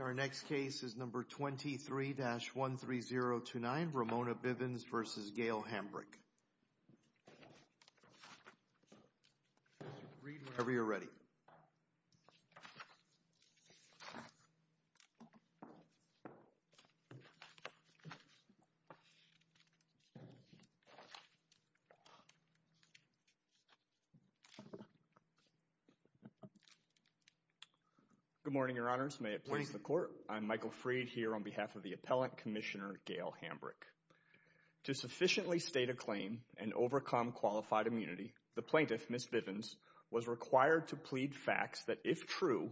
Our next case is number 23-13029, Ramona Bivins v. Gail Hambrick. Michael Freed Good morning, Your Honors. May it please the Court, I'm Michael Freed here on behalf of the Appellant Commissioner Gail Hambrick. To sufficiently state a claim and overcome qualified immunity, the plaintiff, Ms. Bivins, was required to plead facts that, if true,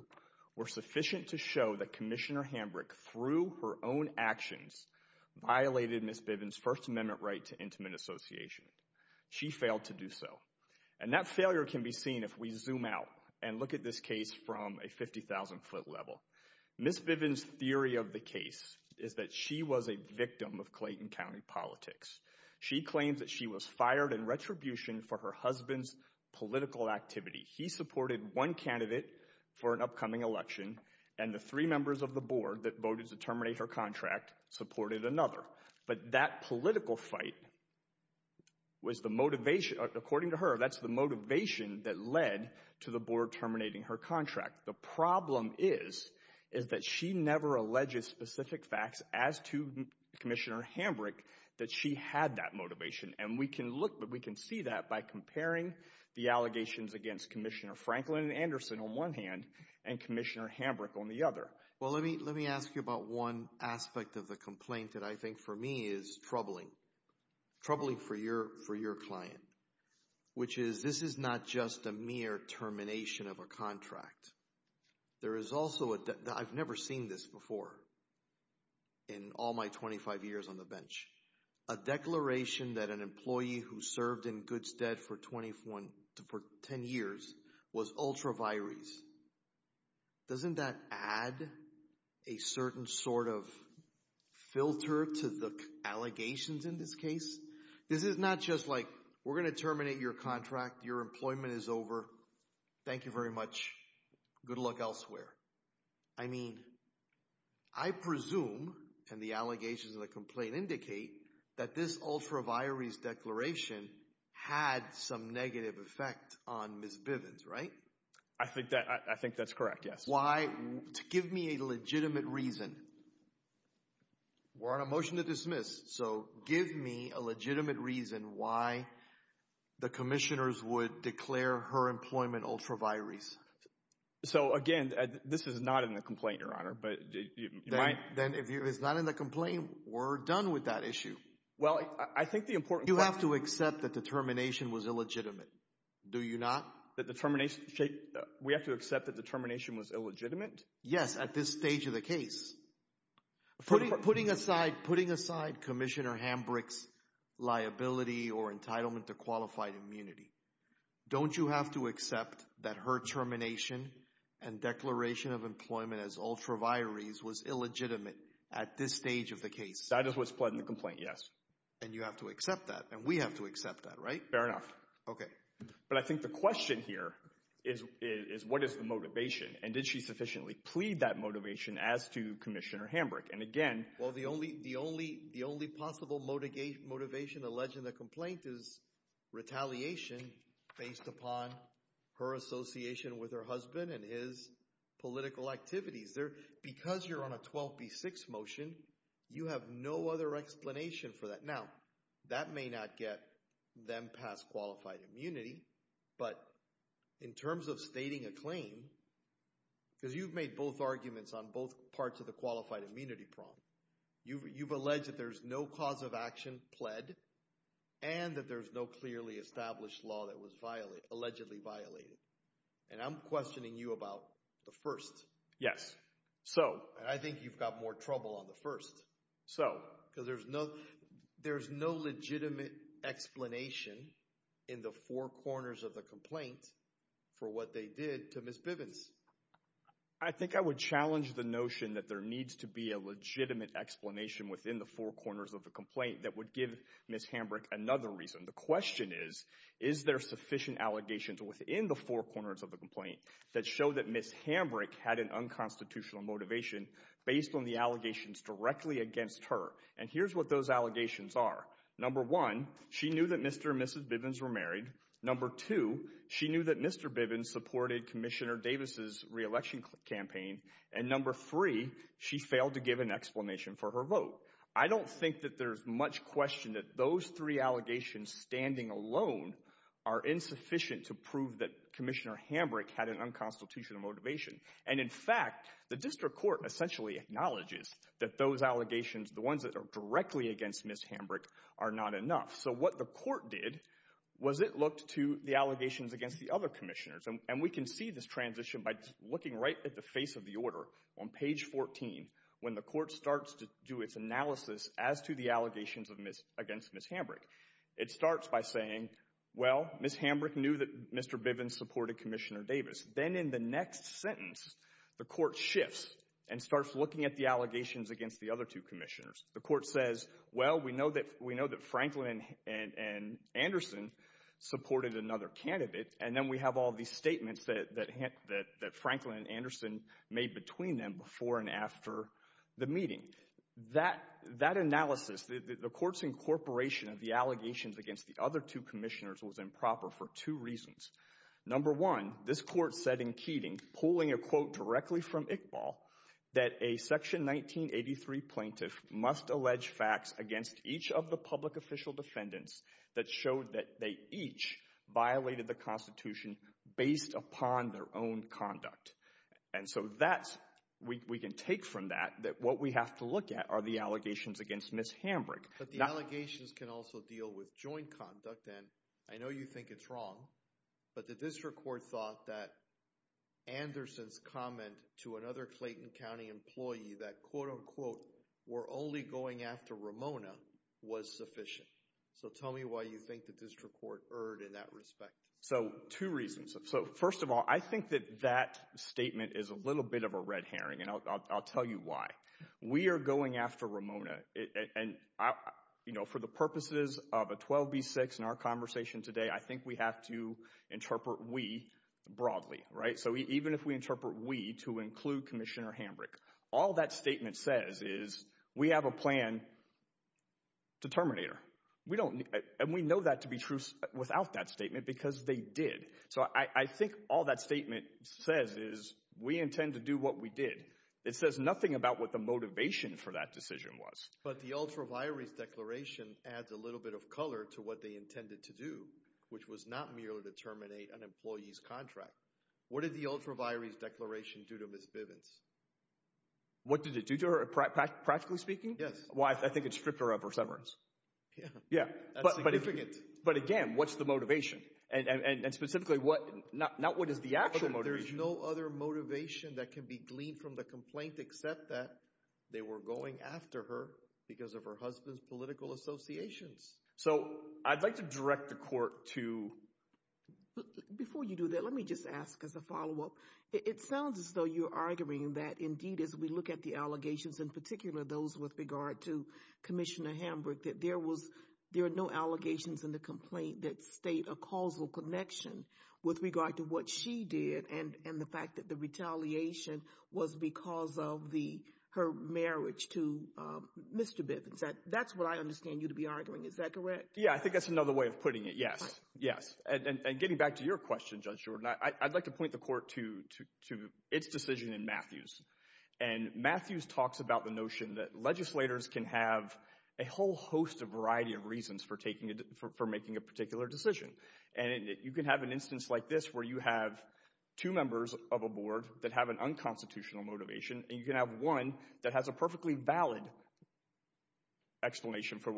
were sufficient to show that Commissioner Hambrick, through her own actions, violated Ms. Bivins' First Amendment right to intimate association. She failed to do so. And that failure can be seen if we zoom out and look at this case from a 50,000-foot level. Ms. Bivins' theory of the case is that she was a victim of Clayton County politics. She claims that she was fired in retribution for her husband's political activity. He supported one candidate for an upcoming election, and the three members of the board that voted to terminate her contract supported another. But that political fight was the motivation, according to her, that's the motivation that led to the board terminating her contract. The problem is, is that she never alleges specific facts as to Commissioner Hambrick that she had that motivation. And we can look, we can see that by comparing the allegations against Commissioner Franklin and Anderson on one hand, and Commissioner Hambrick on the other. Well, let me ask you about one aspect of the complaint that I think, for me, is troubling. Troubling for your client. Which is, this is not just a mere termination of a contract. There is also, I've never seen this before in all my 25 years on the bench. A declaration that an employee who served in Goodstead for 21, for 10 years, was ultravirous. Doesn't that add a certain sort of filter to the allegations in this case? This is not just like, we're going to terminate your contract, your employment is over, thank you very much, good luck elsewhere. I mean, I presume, and the allegations in the complaint indicate, that this ultraviarious declaration had some negative effect on Ms. Bivens, right? I think that's correct, yes. Why? Give me a legitimate reason. We're on a motion to dismiss, so give me a legitimate reason why the commissioners would declare her employment ultraviarious. So again, this is not in the complaint, your honor, but you might... Then if it's not in the complaint, we're done with that issue. Well, I think the important... You have to accept that the termination was illegitimate, do you not? We have to accept that the termination was illegitimate? Yes, at this stage of the case. Putting aside Commissioner Hambrick's liability or entitlement to qualified immunity, don't you have to accept that her termination and declaration of employment as ultraviarious was illegitimate at this stage of the case? That is what's pled in the complaint, yes. And you have to accept that, and we have to accept that, right? Fair enough. Okay. But I think the question here is what is the motivation, and did she sufficiently plead that motivation as to Commissioner Hambrick? And again... Well, the only possible motivation alleged in the complaint is retaliation based upon her association with her husband and his political activities. Because you're on a 12B6 motion, you have no other explanation for that. Now, that may not get them past qualified immunity, but in terms of stating a claim, because you've made both arguments on both parts of the qualified immunity prompt, you've alleged that there's no cause of action pled, and that there's no clearly established law that was allegedly violated. And I'm questioning you about the first. Yes. So... And I think you've got more trouble on the first. So... Because there's no legitimate explanation in the four corners of the complaint for what they did to Ms. Bivens. I think I would challenge the notion that there needs to be a legitimate explanation within the four corners of the complaint that would give Ms. Hambrick another reason. The question is, is there sufficient allegations within the four corners of the complaint that show that Ms. Hambrick had an unconstitutional motivation based on the allegations directly against her? And here's what those allegations are. Number one, she knew that Mr. and Mrs. Bivens were married. Number two, she knew that Mr. Bivens supported Commissioner Davis' re-election campaign. And number three, she failed to give an explanation for her vote. I don't think that there's much question that those three allegations standing alone are insufficient to prove that Commissioner Hambrick had an unconstitutional motivation. And in fact, the district court essentially acknowledges that those allegations, the ones that are directly against Ms. Hambrick, are not enough. So what the court did was it looked to the allegations against the other commissioners. And we can see this transition by looking right at the face of the order on page 14 when the court starts to do its analysis as to the allegations against Ms. Hambrick. It starts by saying, well, Ms. Hambrick knew that Mr. Bivens supported Commissioner Davis. Then in the next sentence, the court shifts and starts looking at the allegations against the other two commissioners. The court says, well, we know that Franklin and Anderson supported another candidate. And then we have all these statements that Franklin and Anderson made between them before and after the meeting. That analysis, the court's incorporation of the allegations against the other two commissioners was improper for two reasons. Number one, this court said in Keating, pulling a quote directly from Iqbal, that a Section 1983 plaintiff must allege facts against each of the public official defendants that showed that they each violated the Constitution based upon their own conduct. And so that's, we can take from that that what we have to look at are the allegations against Ms. Hambrick. But the allegations can also deal with joint conduct. And I know you think it's wrong, but the district court thought that Anderson's comment to another Clayton County employee that quote unquote, we're only going after Ramona was sufficient. So tell me why you think the district court erred in that respect. So two reasons. So first of all, I think that that statement is a little bit of a red herring and I'll tell you why. We are going after Ramona and you know, for the purposes of a 12B6 in our conversation today, I think we have to interpret we broadly, right? So even if we interpret we to include Commissioner Hambrick, all that statement says is we have a plan to terminate her. We don't, and we know that to be true without that statement because they did. So I think all that statement says is we intend to do what we did. It says nothing about what the motivation for that decision was. But the ultraviolet declaration adds a little bit of color to what they intended to do, which was not merely to terminate an employee's contract. What did the ultraviolet declaration do to Ms. Bivens? What did it do to her practically speaking? Yes. Why? I think it's stripped her of her severance. Yeah. Yeah. But again, what's the motivation and specifically what not what is the actual motivation? There's no other motivation that can be gleaned from the complaint except that they were going after her because of her husband's political associations. So I'd like to direct the court to. Before you do that, let me just ask as a follow up. It sounds as though you're arguing that indeed as we look at the allegations, in particular those with regard to Commissioner Hambrick, that there was, there are no allegations in the complaint that state a causal connection with regard to what she did and the fact that the retaliation was because of her marriage to Mr. Bivens. That's what I understand you to be arguing. Is that correct? Yeah. I think that's another way of putting it. Yes. Yes. And getting back to your question, Judge Jordan, I'd like to point the court to its decision in Matthews. And Matthews talks about the notion that legislators can have a whole host of variety of reasons for taking, for making a particular decision. And you can have an instance like this where you have two members of a board that have an unconstitutional motivation and you can have one that has a perfectly valid explanation for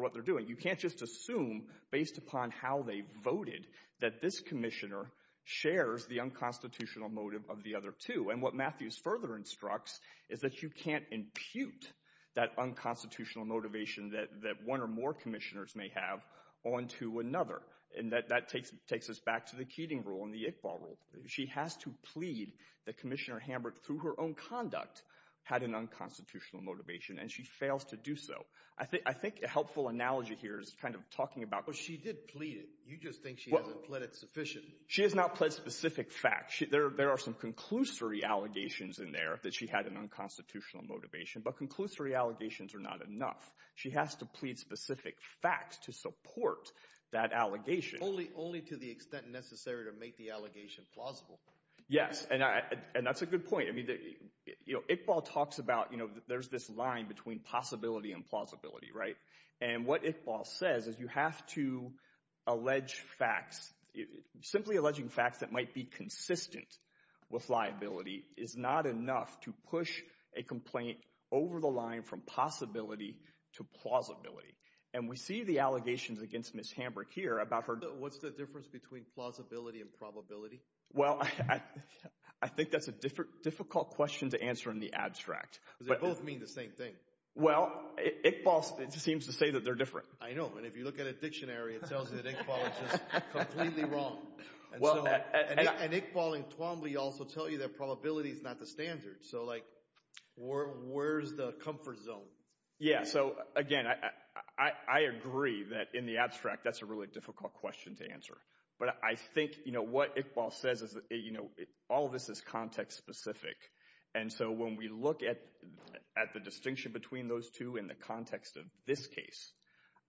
what they're doing. You can't just assume based upon how they voted that this commissioner shares the unconstitutional motive of the other two. And what Matthews further instructs is that you can't impute that unconstitutional motivation that one or more commissioners may have onto another. And that takes us back to the Keating rule and the Iqbal rule. She has to plead that Commissioner Hamburg, through her own conduct, had an unconstitutional motivation and she fails to do so. I think a helpful analogy here is kind of talking about — But she did plead it. You just think she hasn't pled it sufficiently. She has not pled specific facts. There are some conclusory allegations in there that she had an unconstitutional motivation. But conclusory allegations are not enough. She has to plead specific facts to support that allegation. Only to the extent necessary to make the allegation plausible. Yes. And that's a good point. Iqbal talks about there's this line between possibility and plausibility, right? And what Iqbal says is you have to allege facts — simply alleging facts that might be consistent with liability is not enough to push a complaint over the line from possibility to plausibility. And we see the allegations against Ms. Hamburg here about her — So what's the difference between plausibility and probability? Well, I think that's a difficult question to answer in the abstract. Because they both mean the same thing. Well, Iqbal seems to say that they're different. I know. And if you look at a dictionary, it tells you that Iqbal is just completely wrong. And Iqbal and Twombly also tell you that probability is not the standard. So like, where's the comfort zone? Yeah, so again, I agree that in the abstract, that's a really difficult question to answer. But I think, you know, what Iqbal says is, you know, all of this is context-specific. And so when we look at the distinction between those two in the context of this case,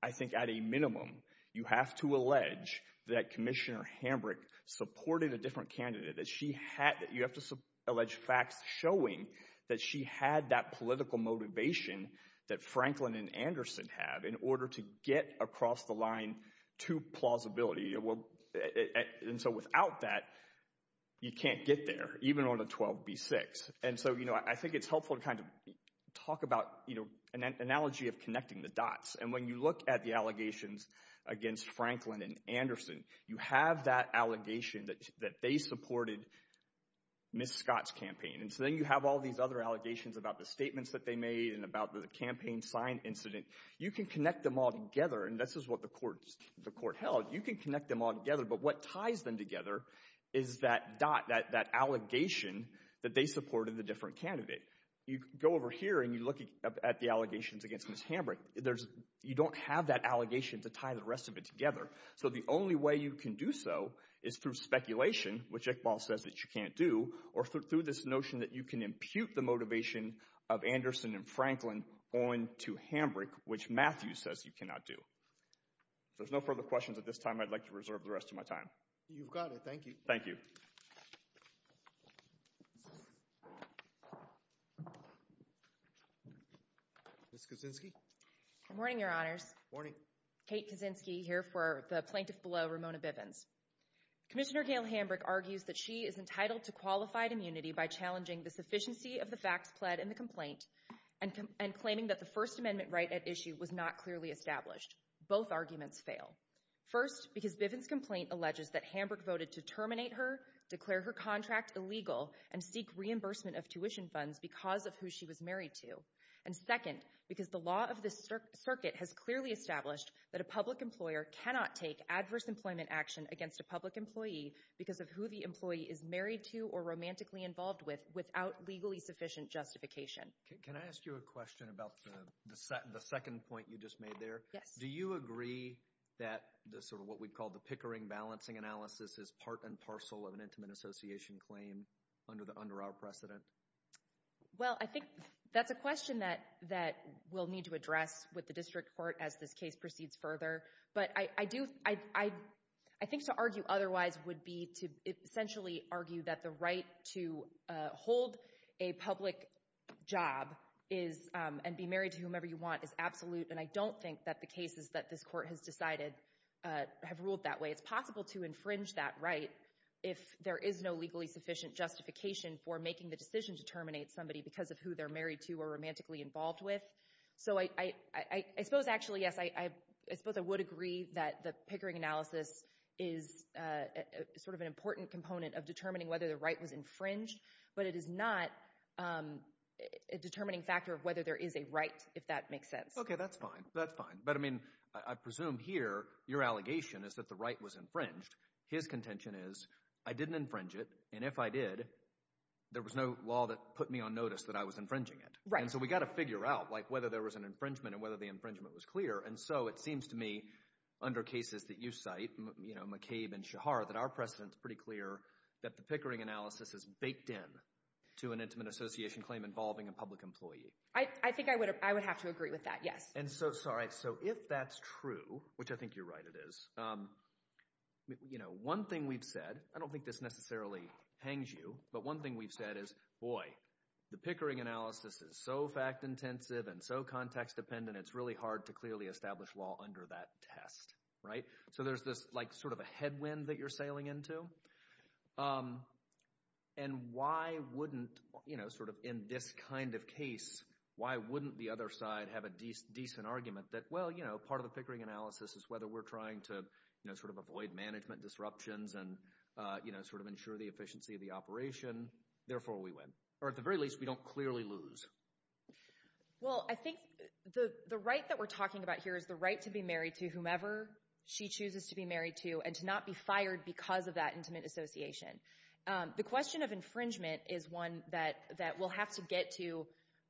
I think at a minimum, you have to allege that Commissioner Hamburg supported a different candidate. That she had — you have to allege facts showing that she had that political motivation that Franklin and Anderson have in order to get across the line to plausibility. And so without that, you can't get there, even on a 12b-6. And so, you know, I think it's helpful to kind of talk about, you know, an analogy of connecting the dots. And when you look at the allegations against Franklin and Anderson, you have that allegation that they supported Ms. Scott's campaign. And so then you have all these other allegations about the statements that they made and about the campaign sign incident. You can connect them all together, and this is what the court held. You can connect them all together, but what ties them together is that dot, that allegation that they supported a different candidate. You go over here and you look at the allegations against Ms. Hamburg. You don't have that allegation to tie the rest of it together. So the only way you can do so is through speculation, which Iqbal says that you can't do, or through this notion that you can impute the motivation of Anderson and Franklin on to Hamburg, which Matthew says you cannot do. If there's no further questions at this time, I'd like to reserve the rest of my time. You've got it. Thank you. Thank you. Ms. Kuczynski? Good morning, Your Honors. Morning. Kate Kuczynski here for the plaintiff below, Ramona Bivens. Commissioner Gail Hamburg argues that she is entitled to qualified immunity by challenging the sufficiency of the facts pled in the complaint and claiming that the First Amendment right at issue was not clearly established. Both arguments fail. First, because Bivens' complaint alleges that Hamburg voted to terminate her, declare her contract illegal, and seek reimbursement of tuition funds because of who she was married to. And second, because the law of the circuit has clearly established that a public employer cannot take adverse employment action against a public employee because of who the employee is married to or romantically involved with without legally sufficient justification. Can I ask you a question about the second point you just made there? Yes. Do you agree that the sort of what we call the Pickering balancing analysis is part and parcel of an Intimate Association claim under our precedent? Well, I think that's a question that we'll need to address with the district court as this case proceeds further. But I do, I think to argue otherwise would be to essentially argue that the right to hold a public job is, and be married to whomever you want, is absolute. And I don't think that the cases that this court has decided have ruled that way. It's possible to infringe that right if there is no legally sufficient justification for making the decision to terminate somebody because of who they're married to or romantically involved with. So I suppose actually, yes, I suppose I would agree that the Pickering analysis is sort of an important component of determining whether the right was infringed, but it is not a determining factor of whether there is a right, if that makes sense. Okay, that's fine. That's fine. But I mean, I presume here your allegation is that the right was infringed. His contention is, I didn't infringe it, and if I did, there was no law that put me on notice that I was infringing it. Right. And so we've got to figure out, like, whether there was an infringement and whether the infringement was clear. And so it seems to me, under cases that you cite, you know, McCabe and Shahar, that our precedent is pretty clear that the Pickering analysis is baked in to an intimate association claim involving a public employee. I think I would have to agree with that, yes. And so, sorry, so if that's true, which I think you're right it is, you know, one thing we've said, I don't think this necessarily hangs you, but one thing we've said is, boy, the Pickering analysis is so fact-intensive and so context-dependent, it's really hard to clearly establish law under that test, right? So there's this, like, sort of a headwind that you're sailing into. And why wouldn't, you know, sort of in this kind of case, why wouldn't the other side have a decent argument that, well, you know, part of the Pickering analysis is whether we're trying to, you know, sort of avoid management disruptions and, you know, sort of ensure the efficiency of the operation, therefore we win. Or at the very least, we don't clearly lose. Well, I think the right that we're talking about here is the right to be married to whomever she chooses to be married to and to not be fired because of that intimate association. The question of infringement is one that we'll have to get to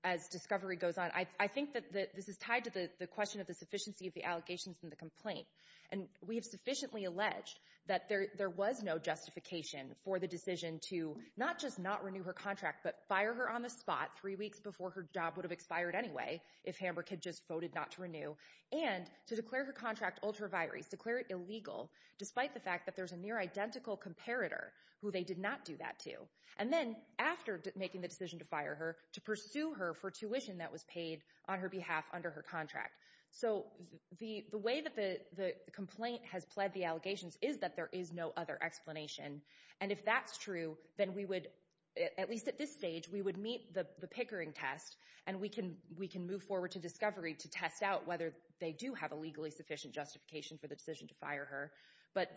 as discovery goes on. I think that this is tied to the question of the sufficiency of the allegations in the complaint. And we have sufficiently alleged that there was no justification for the decision to not just not renew her contract, but fire her on the spot three weeks before her job would have expired anyway if Hamburg had just voted not to renew, and to declare her contract ultra vires, to declare it illegal despite the fact that there's a near identical comparator who they did not do that to. And then after making the decision to fire her, to pursue her for tuition that was paid on her behalf under her contract. So the way that the complaint has pled the allegations is that there is no other explanation. And if that's true, then we would, at least at this stage, we would meet the Pickering test and we can move forward to discovery to test out whether they do have a legally sufficient justification for the decision to fire her. But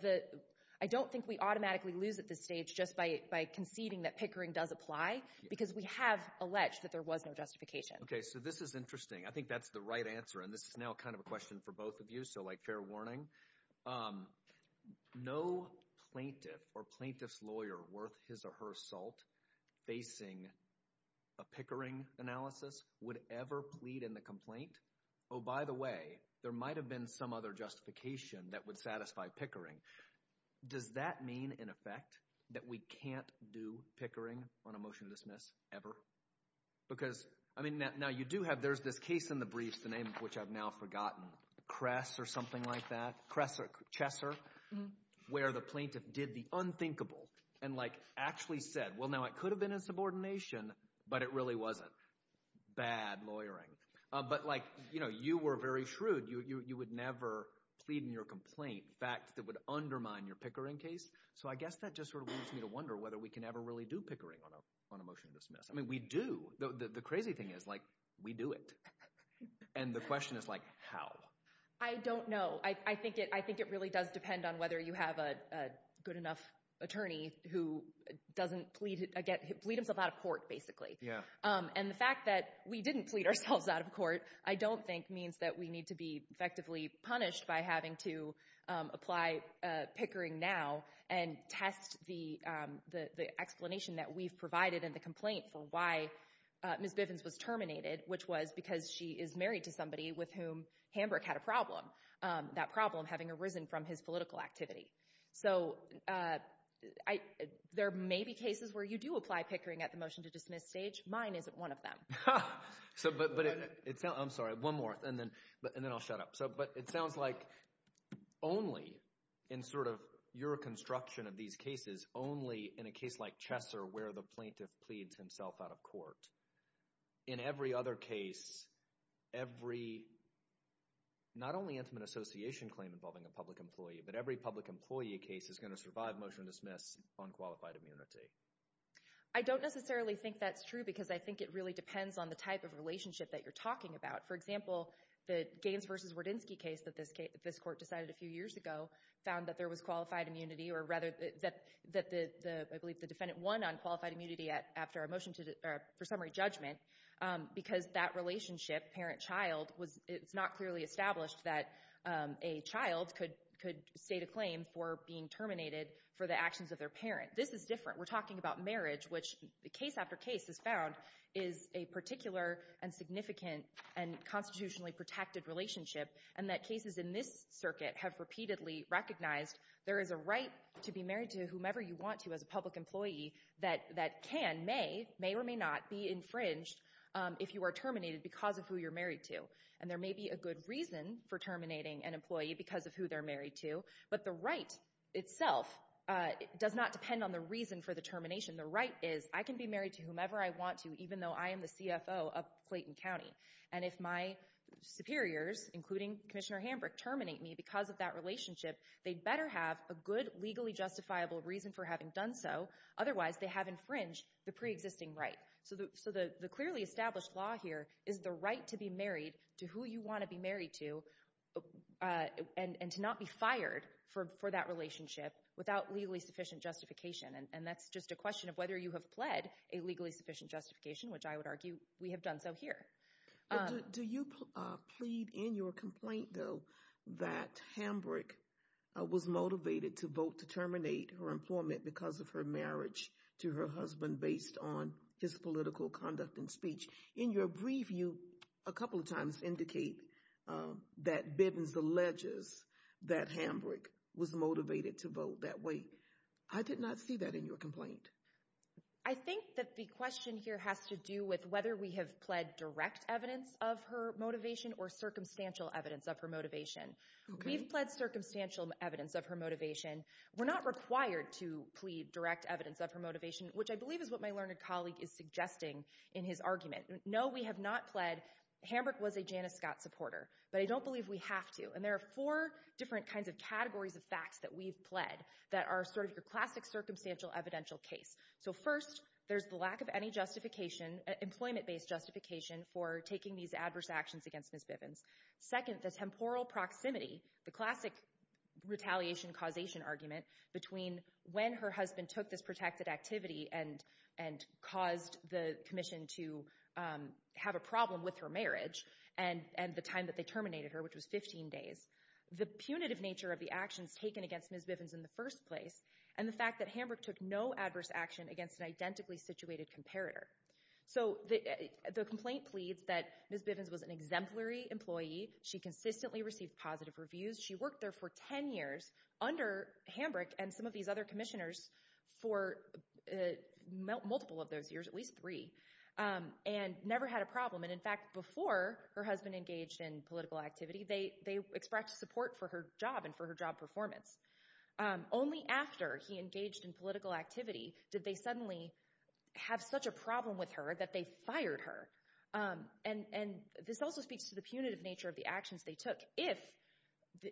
I don't think we automatically lose at this stage just by conceding that Pickering does apply, because we have alleged that there was no justification. Okay, so this is interesting. I think that's the right answer, and this is now kind of a question for both of you, so like fair warning. No plaintiff or plaintiff's lawyer worth his or her salt facing a Pickering analysis would ever plead in the complaint. Oh, by the way, there might have been some other justification that would satisfy Pickering. Does that mean, in effect, that we can't do Pickering on a motion to dismiss ever? Because I mean, now you do have, there's this case in the briefs, the name of which I've now forgotten, Kress or something like that, Kress or Chesser, where the plaintiff did the unthinkable and like actually said, well, now it could have been a subordination, but it really wasn't. Bad lawyering. But like, you know, you were very shrewd. You would never plead in your complaint, facts that would undermine your Pickering case. So I guess that just sort of leads me to wonder whether we can ever really do Pickering on a motion to dismiss. I mean, we do. The crazy thing is, like, we do it. And the question is like, how? I don't know. I think it really does depend on whether you have a good enough attorney who doesn't plead himself out of court, basically. And the fact that we didn't plead ourselves out of court, I don't think means that we need to be effectively punished by having to apply Pickering now and test the explanation that we've provided in the complaint for why Ms. Bivens was terminated, which was because she is married to somebody with whom Hamburg had a problem. That problem having arisen from his political activity. So there may be cases where you do apply Pickering at the motion-to-dismiss stage. Mine isn't one of them. Ha! I'm sorry. One more. And then I'll shut up. But it sounds like only in sort of your construction of these cases, only in a case like Chesser where the plaintiff pleads himself out of court, in every other case, every not only Antiman Association claim involving a public employee, but every public employee case is going to survive motion-to-dismiss on qualified immunity. I don't necessarily think that's true because I think it really depends on the type of relationship that you're talking about. For example, the Gaines v. Wardinsky case that this court decided a few years ago found that there was qualified immunity or rather that I believe the defendant won on qualified immunity after a motion for summary judgment because that relationship, parent-child, it's not clearly established that a child could state a claim for being terminated for the actions of their parent. This is different. We're talking about marriage, which case after case has found is a particular and significant and constitutionally protected relationship and that cases in this circuit have repeatedly recognized there is a right to be married to whomever you want to as a public employee that can, may, may or may not be infringed if you are terminated because of who you're married to. And there may be a good reason for terminating an employee because of who they're married to, but the right itself does not depend on the reason for the termination. The right is I can be married to whomever I want to even though I am the CFO of Clayton County and if my superiors, including Commissioner Hambrick, terminate me because of that relationship, they better have a good legally justifiable reason for having done so, otherwise they have infringed the pre-existing right. So the clearly established law here is the right to be married to who you want to be married to and to not be fired for that relationship without legally sufficient justification. And that's just a question of whether you have pled a legally sufficient justification, which I would argue we have done so here. Do you plead in your complaint though that Hambrick was motivated to vote to terminate her employment because of her marriage to her husband based on his political conduct and speech? In your brief, you a couple of times indicate that Bivens alleges that Hambrick was motivated to vote that way. I did not see that in your complaint. I think that the question here has to do with whether we have pled direct evidence of her motivation or circumstantial evidence of her motivation. We've pled circumstantial evidence of her motivation. We're not required to plead direct evidence of her motivation, which I believe is what my learned colleague is suggesting in his argument. No, we have not pled. Hambrick was a Janice Scott supporter, but I don't believe we have to. And there are four different kinds of categories of facts that we've pled that are sort of your classic circumstantial evidential case. So first, there's the lack of any employment-based justification for taking these adverse actions against Ms. Bivens. Second, the temporal proximity, the classic retaliation-causation argument between when her husband took this protected activity and caused the commission to have a problem with her marriage and the time that they terminated her, which was 15 days. The punitive nature of the actions taken against Ms. Bivens in the first place, and the fact that Hambrick took no adverse action against an identically situated comparator. So the complaint pleads that Ms. Bivens was an exemplary employee. She consistently received positive reviews. She worked there for 10 years under Hambrick and some of these other commissioners for multiple of those years, at least three, and never had a problem. And in fact, before her husband engaged in political activity, they expressed support for her job and for her job performance. Only after he engaged in political activity did they suddenly have such a problem with her that they fired her. And this also speaks to the punitive nature of the actions they took. If,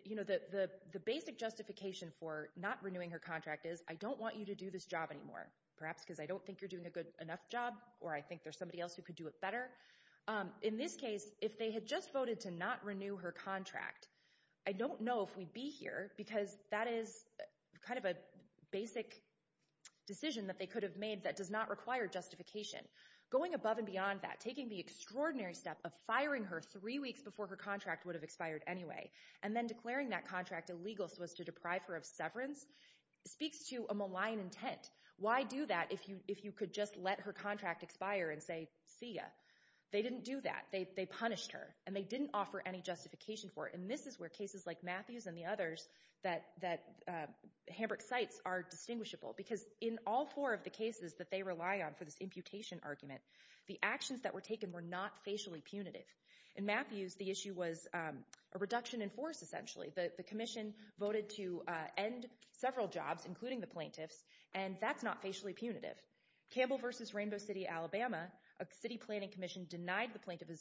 you know, the basic justification for not renewing her contract is, I don't want you to do this job anymore, perhaps because I don't think you're doing a good enough job or I think there's somebody else who could do it better. In this case, if they had just voted to not renew her contract, I don't know if we'd be here because that is kind of a basic decision that they could have made that does not require justification. Going above and beyond that, taking the extraordinary step of firing her three weeks before her contract would have expired anyway, and then declaring that contract illegal so as to deprive her of severance, speaks to a malign intent. Why do that if you could just let her contract expire and say, see ya? They didn't do that. They punished her. And they didn't offer any justification for it. And this is where cases like Matthews and the others that Hamburg cites are distinguishable. Because in all four of the cases that they rely on for this imputation argument, the actions that were taken were not facially punitive. In Matthews, the issue was a reduction in force, essentially. The commission voted to end several jobs, including the plaintiffs, and that's not facially punitive. Campbell v. Rainbow City, Alabama, a city planning commission denied the plaintiff a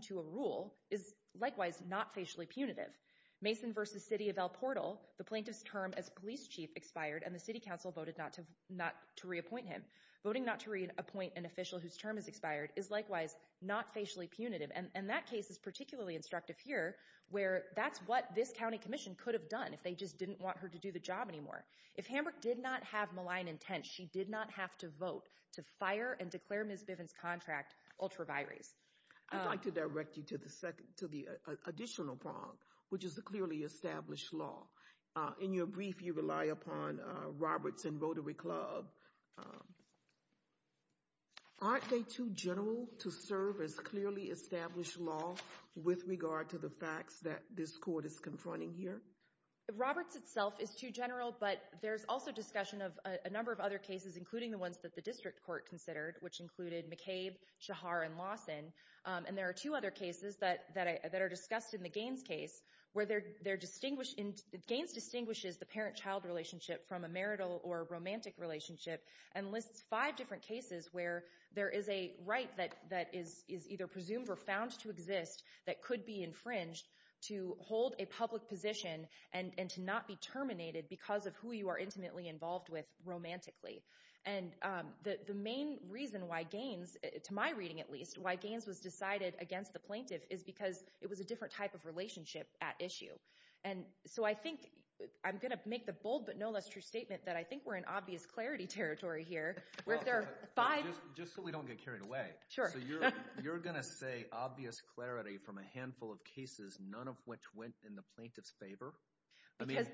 job, is likewise not facially punitive. Mason v. City of El Portal, the plaintiff's term as police chief expired, and the city council voted not to reappoint him. Voting not to reappoint an official whose term has expired is likewise not facially punitive. And that case is particularly instructive here, where that's what this county commission could have done if they just didn't want her to do the job anymore. If Hamburg did not have malign intent, she did not have to vote to fire and declare Ms. Bivens' contract ultra-virus. I'd like to direct you to the additional prong, which is the clearly established law. In your brief, you rely upon Roberts and Rotary Club. Aren't they too general to serve as clearly established law with regard to the facts that this court is confronting here? Roberts itself is too general, but there's also discussion of a number of other cases, including the ones that the district court considered, which included McCabe, Shahar, and Lawson. And there are two other cases that are discussed in the Gaines case, where Gaines distinguishes the parent-child relationship from a marital or romantic relationship, and lists five different cases where there is a right that is either presumed or found to exist that could be infringed to hold a public position and to not be terminated because of who you are intimately involved with romantically. And the main reason why Gaines, to my reading at least, why Gaines was decided against the plaintiff is because it was a different type of relationship at issue. And so I think, I'm going to make the bold but no less true statement that I think we're in obvious clarity territory here, where there are five- Just so we don't get carried away. Sure. So you're going to say obvious clarity from a handful of cases, none of which went in the plaintiff's favor? Because-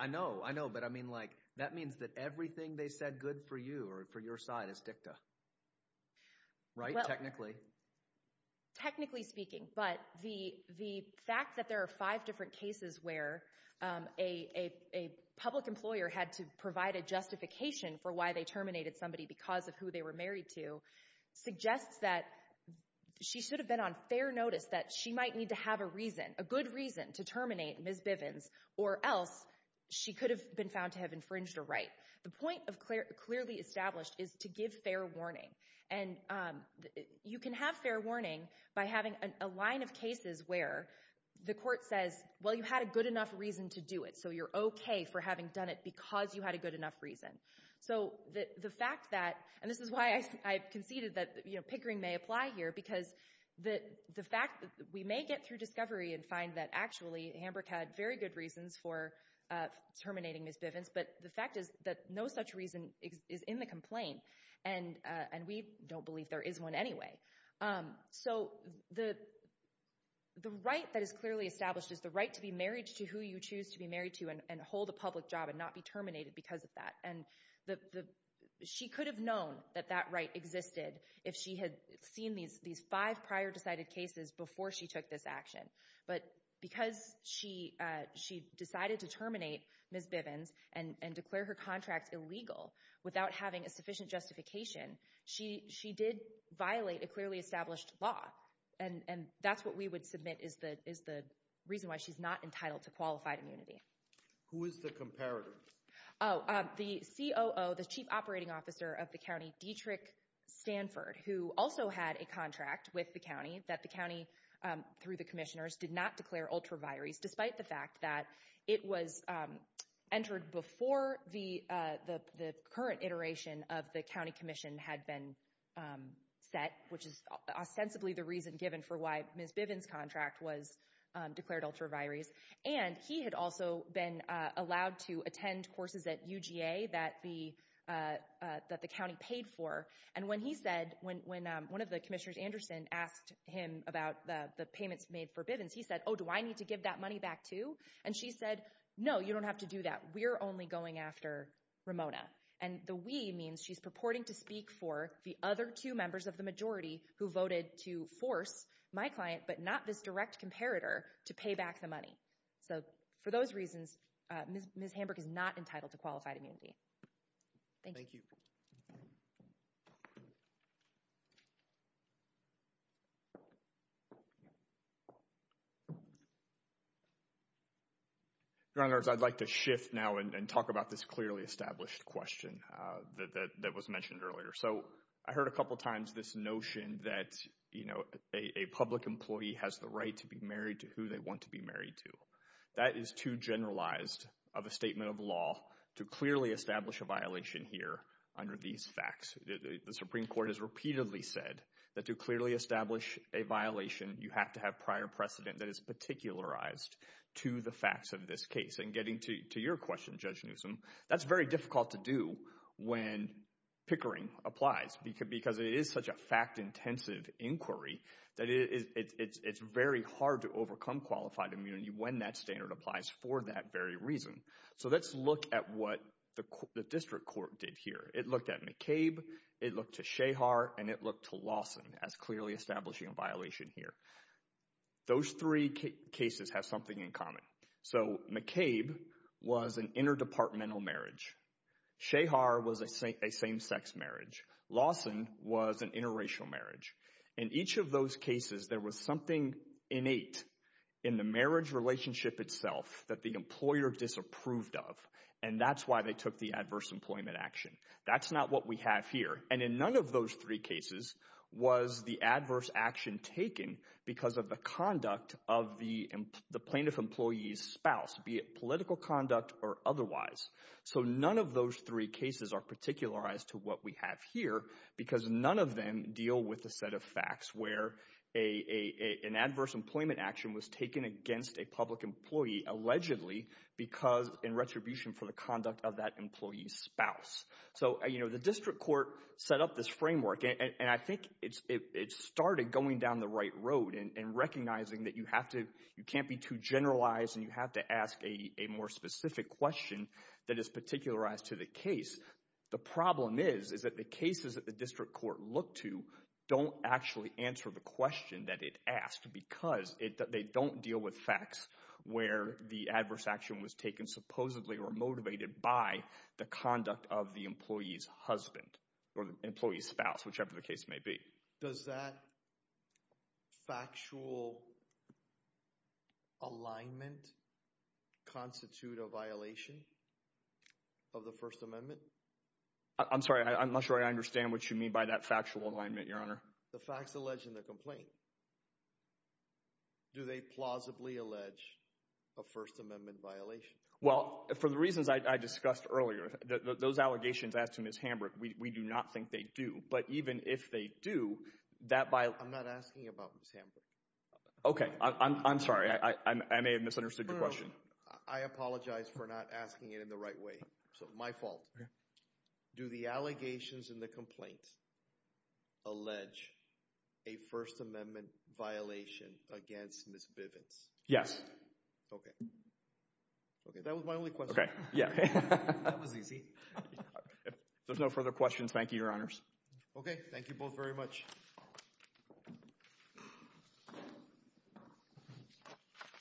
I know, I know, but I mean like, that means that everything they said good for you or for your side is dicta, right, technically? Technically speaking. But the fact that there are five different cases where a public employer had to provide a justification for why they terminated somebody because of who they were married to suggests that she should have been on fair notice, that she might need to have a reason, a good reason to terminate Ms. Bivens, or else she could have been found to have infringed her right. The point of clearly established is to give fair warning. And you can have fair warning by having a line of cases where the court says, well you had a good enough reason to do it, so you're okay for having done it because you had a good enough reason. So the fact that, and this is why I conceded that, you know, pickering may apply here, because the fact that we may get through discovery and find that actually Hamburg had very good reasons for terminating Ms. Bivens, but the fact is that no such reason is in the complaint, and we don't believe there is one anyway. So the right that is clearly established is the right to be married to who you choose to be married to and hold a public job and not be terminated because of that. And she could have known that that right existed if she had seen these five prior decided cases before she took this action. But because she decided to terminate Ms. Bivens and declare her contract illegal without having a sufficient justification, she did violate a clearly established law. And that's what we would submit is the reason why she's not entitled to qualified immunity. Who is the comparator? Oh, the COO, the chief operating officer of the county, Dietrich Stanford, who also had a contract with the county that the county, through the commissioners, did not declare ultra vires despite the fact that it was entered before the current iteration of the county commission had been set, which is ostensibly the reason given for why Ms. Bivens' contract was declared ultra vires. And he had also been allowed to attend courses at UGA that the county paid for. And when he said, when one of the commissioners, Anderson, asked him about the payments made for Bivens, he said, oh, do I need to give that money back too? And she said, no, you don't have to do that. We're only going after Ramona. And the we means she's purporting to speak for the other two members of the majority who voted to force my client, but not this direct comparator, to pay back the money. So for those reasons, Ms. Hamburg is not entitled to qualified immunity. Thank you. Your honor, I'd like to shift now and talk about this clearly established question that was mentioned earlier. So I heard a couple of times this notion that, you know, a public employee has the right to be married to who they want to be married to. That is too generalized of a statement of law to clearly establish a violation here under these facts. The Supreme Court has repeatedly said that to clearly establish a violation, you have to have prior precedent that is particularized to the facts of this case. And getting to your question, Judge Newsom, that's very difficult to do when pickering applies, because it is such a fact-intensive inquiry that it's very hard to overcome qualified immunity when that standard applies for that very reason. So let's look at what the district court did here. It looked at McCabe, it looked to Shehar, and it looked to Lawson as clearly establishing a violation here. Those three cases have something in common. So McCabe was an interdepartmental marriage. Shehar was a same-sex marriage. Lawson was an interracial marriage. In each of those cases, there was something innate in the marriage relationship itself that the employer disapproved of, and that's why they took the adverse employment action. That's not what we have here. And in none of those three cases was the adverse action taken because of the conduct of the plaintiff's employee's spouse, be it political conduct or otherwise. So none of those three cases are particularized to what we have here, because none of them deal with the set of facts where an adverse employment action was taken against a public employee allegedly in retribution for the conduct of that employee's spouse. So the district court set up this framework, and I think it started going down the right generalize, and you have to ask a more specific question that is particularized to the case. The problem is, is that the cases that the district court looked to don't actually answer the question that it asked because they don't deal with facts where the adverse action was taken supposedly or motivated by the conduct of the employee's husband or the employee's spouse, whichever the case may be. Does that factual alignment constitute a violation of the First Amendment? I'm sorry, I'm not sure I understand what you mean by that factual alignment, Your Honor. The facts alleged in the complaint, do they plausibly allege a First Amendment violation? Well, for the reasons I discussed earlier, those allegations as to Ms. Hamburg, we do not think they do. But even if they do, that by... I'm not asking about Ms. Hamburg. Okay. I'm sorry. I may have misunderstood your question. I apologize for not asking it in the right way. So my fault. Do the allegations in the complaint allege a First Amendment violation against Ms. Bivens? Yes. Okay. Okay, that was my only question. Okay, yeah. That was easy. If there's no further questions, thank you, Your Honors. Okay. Thank you both very much.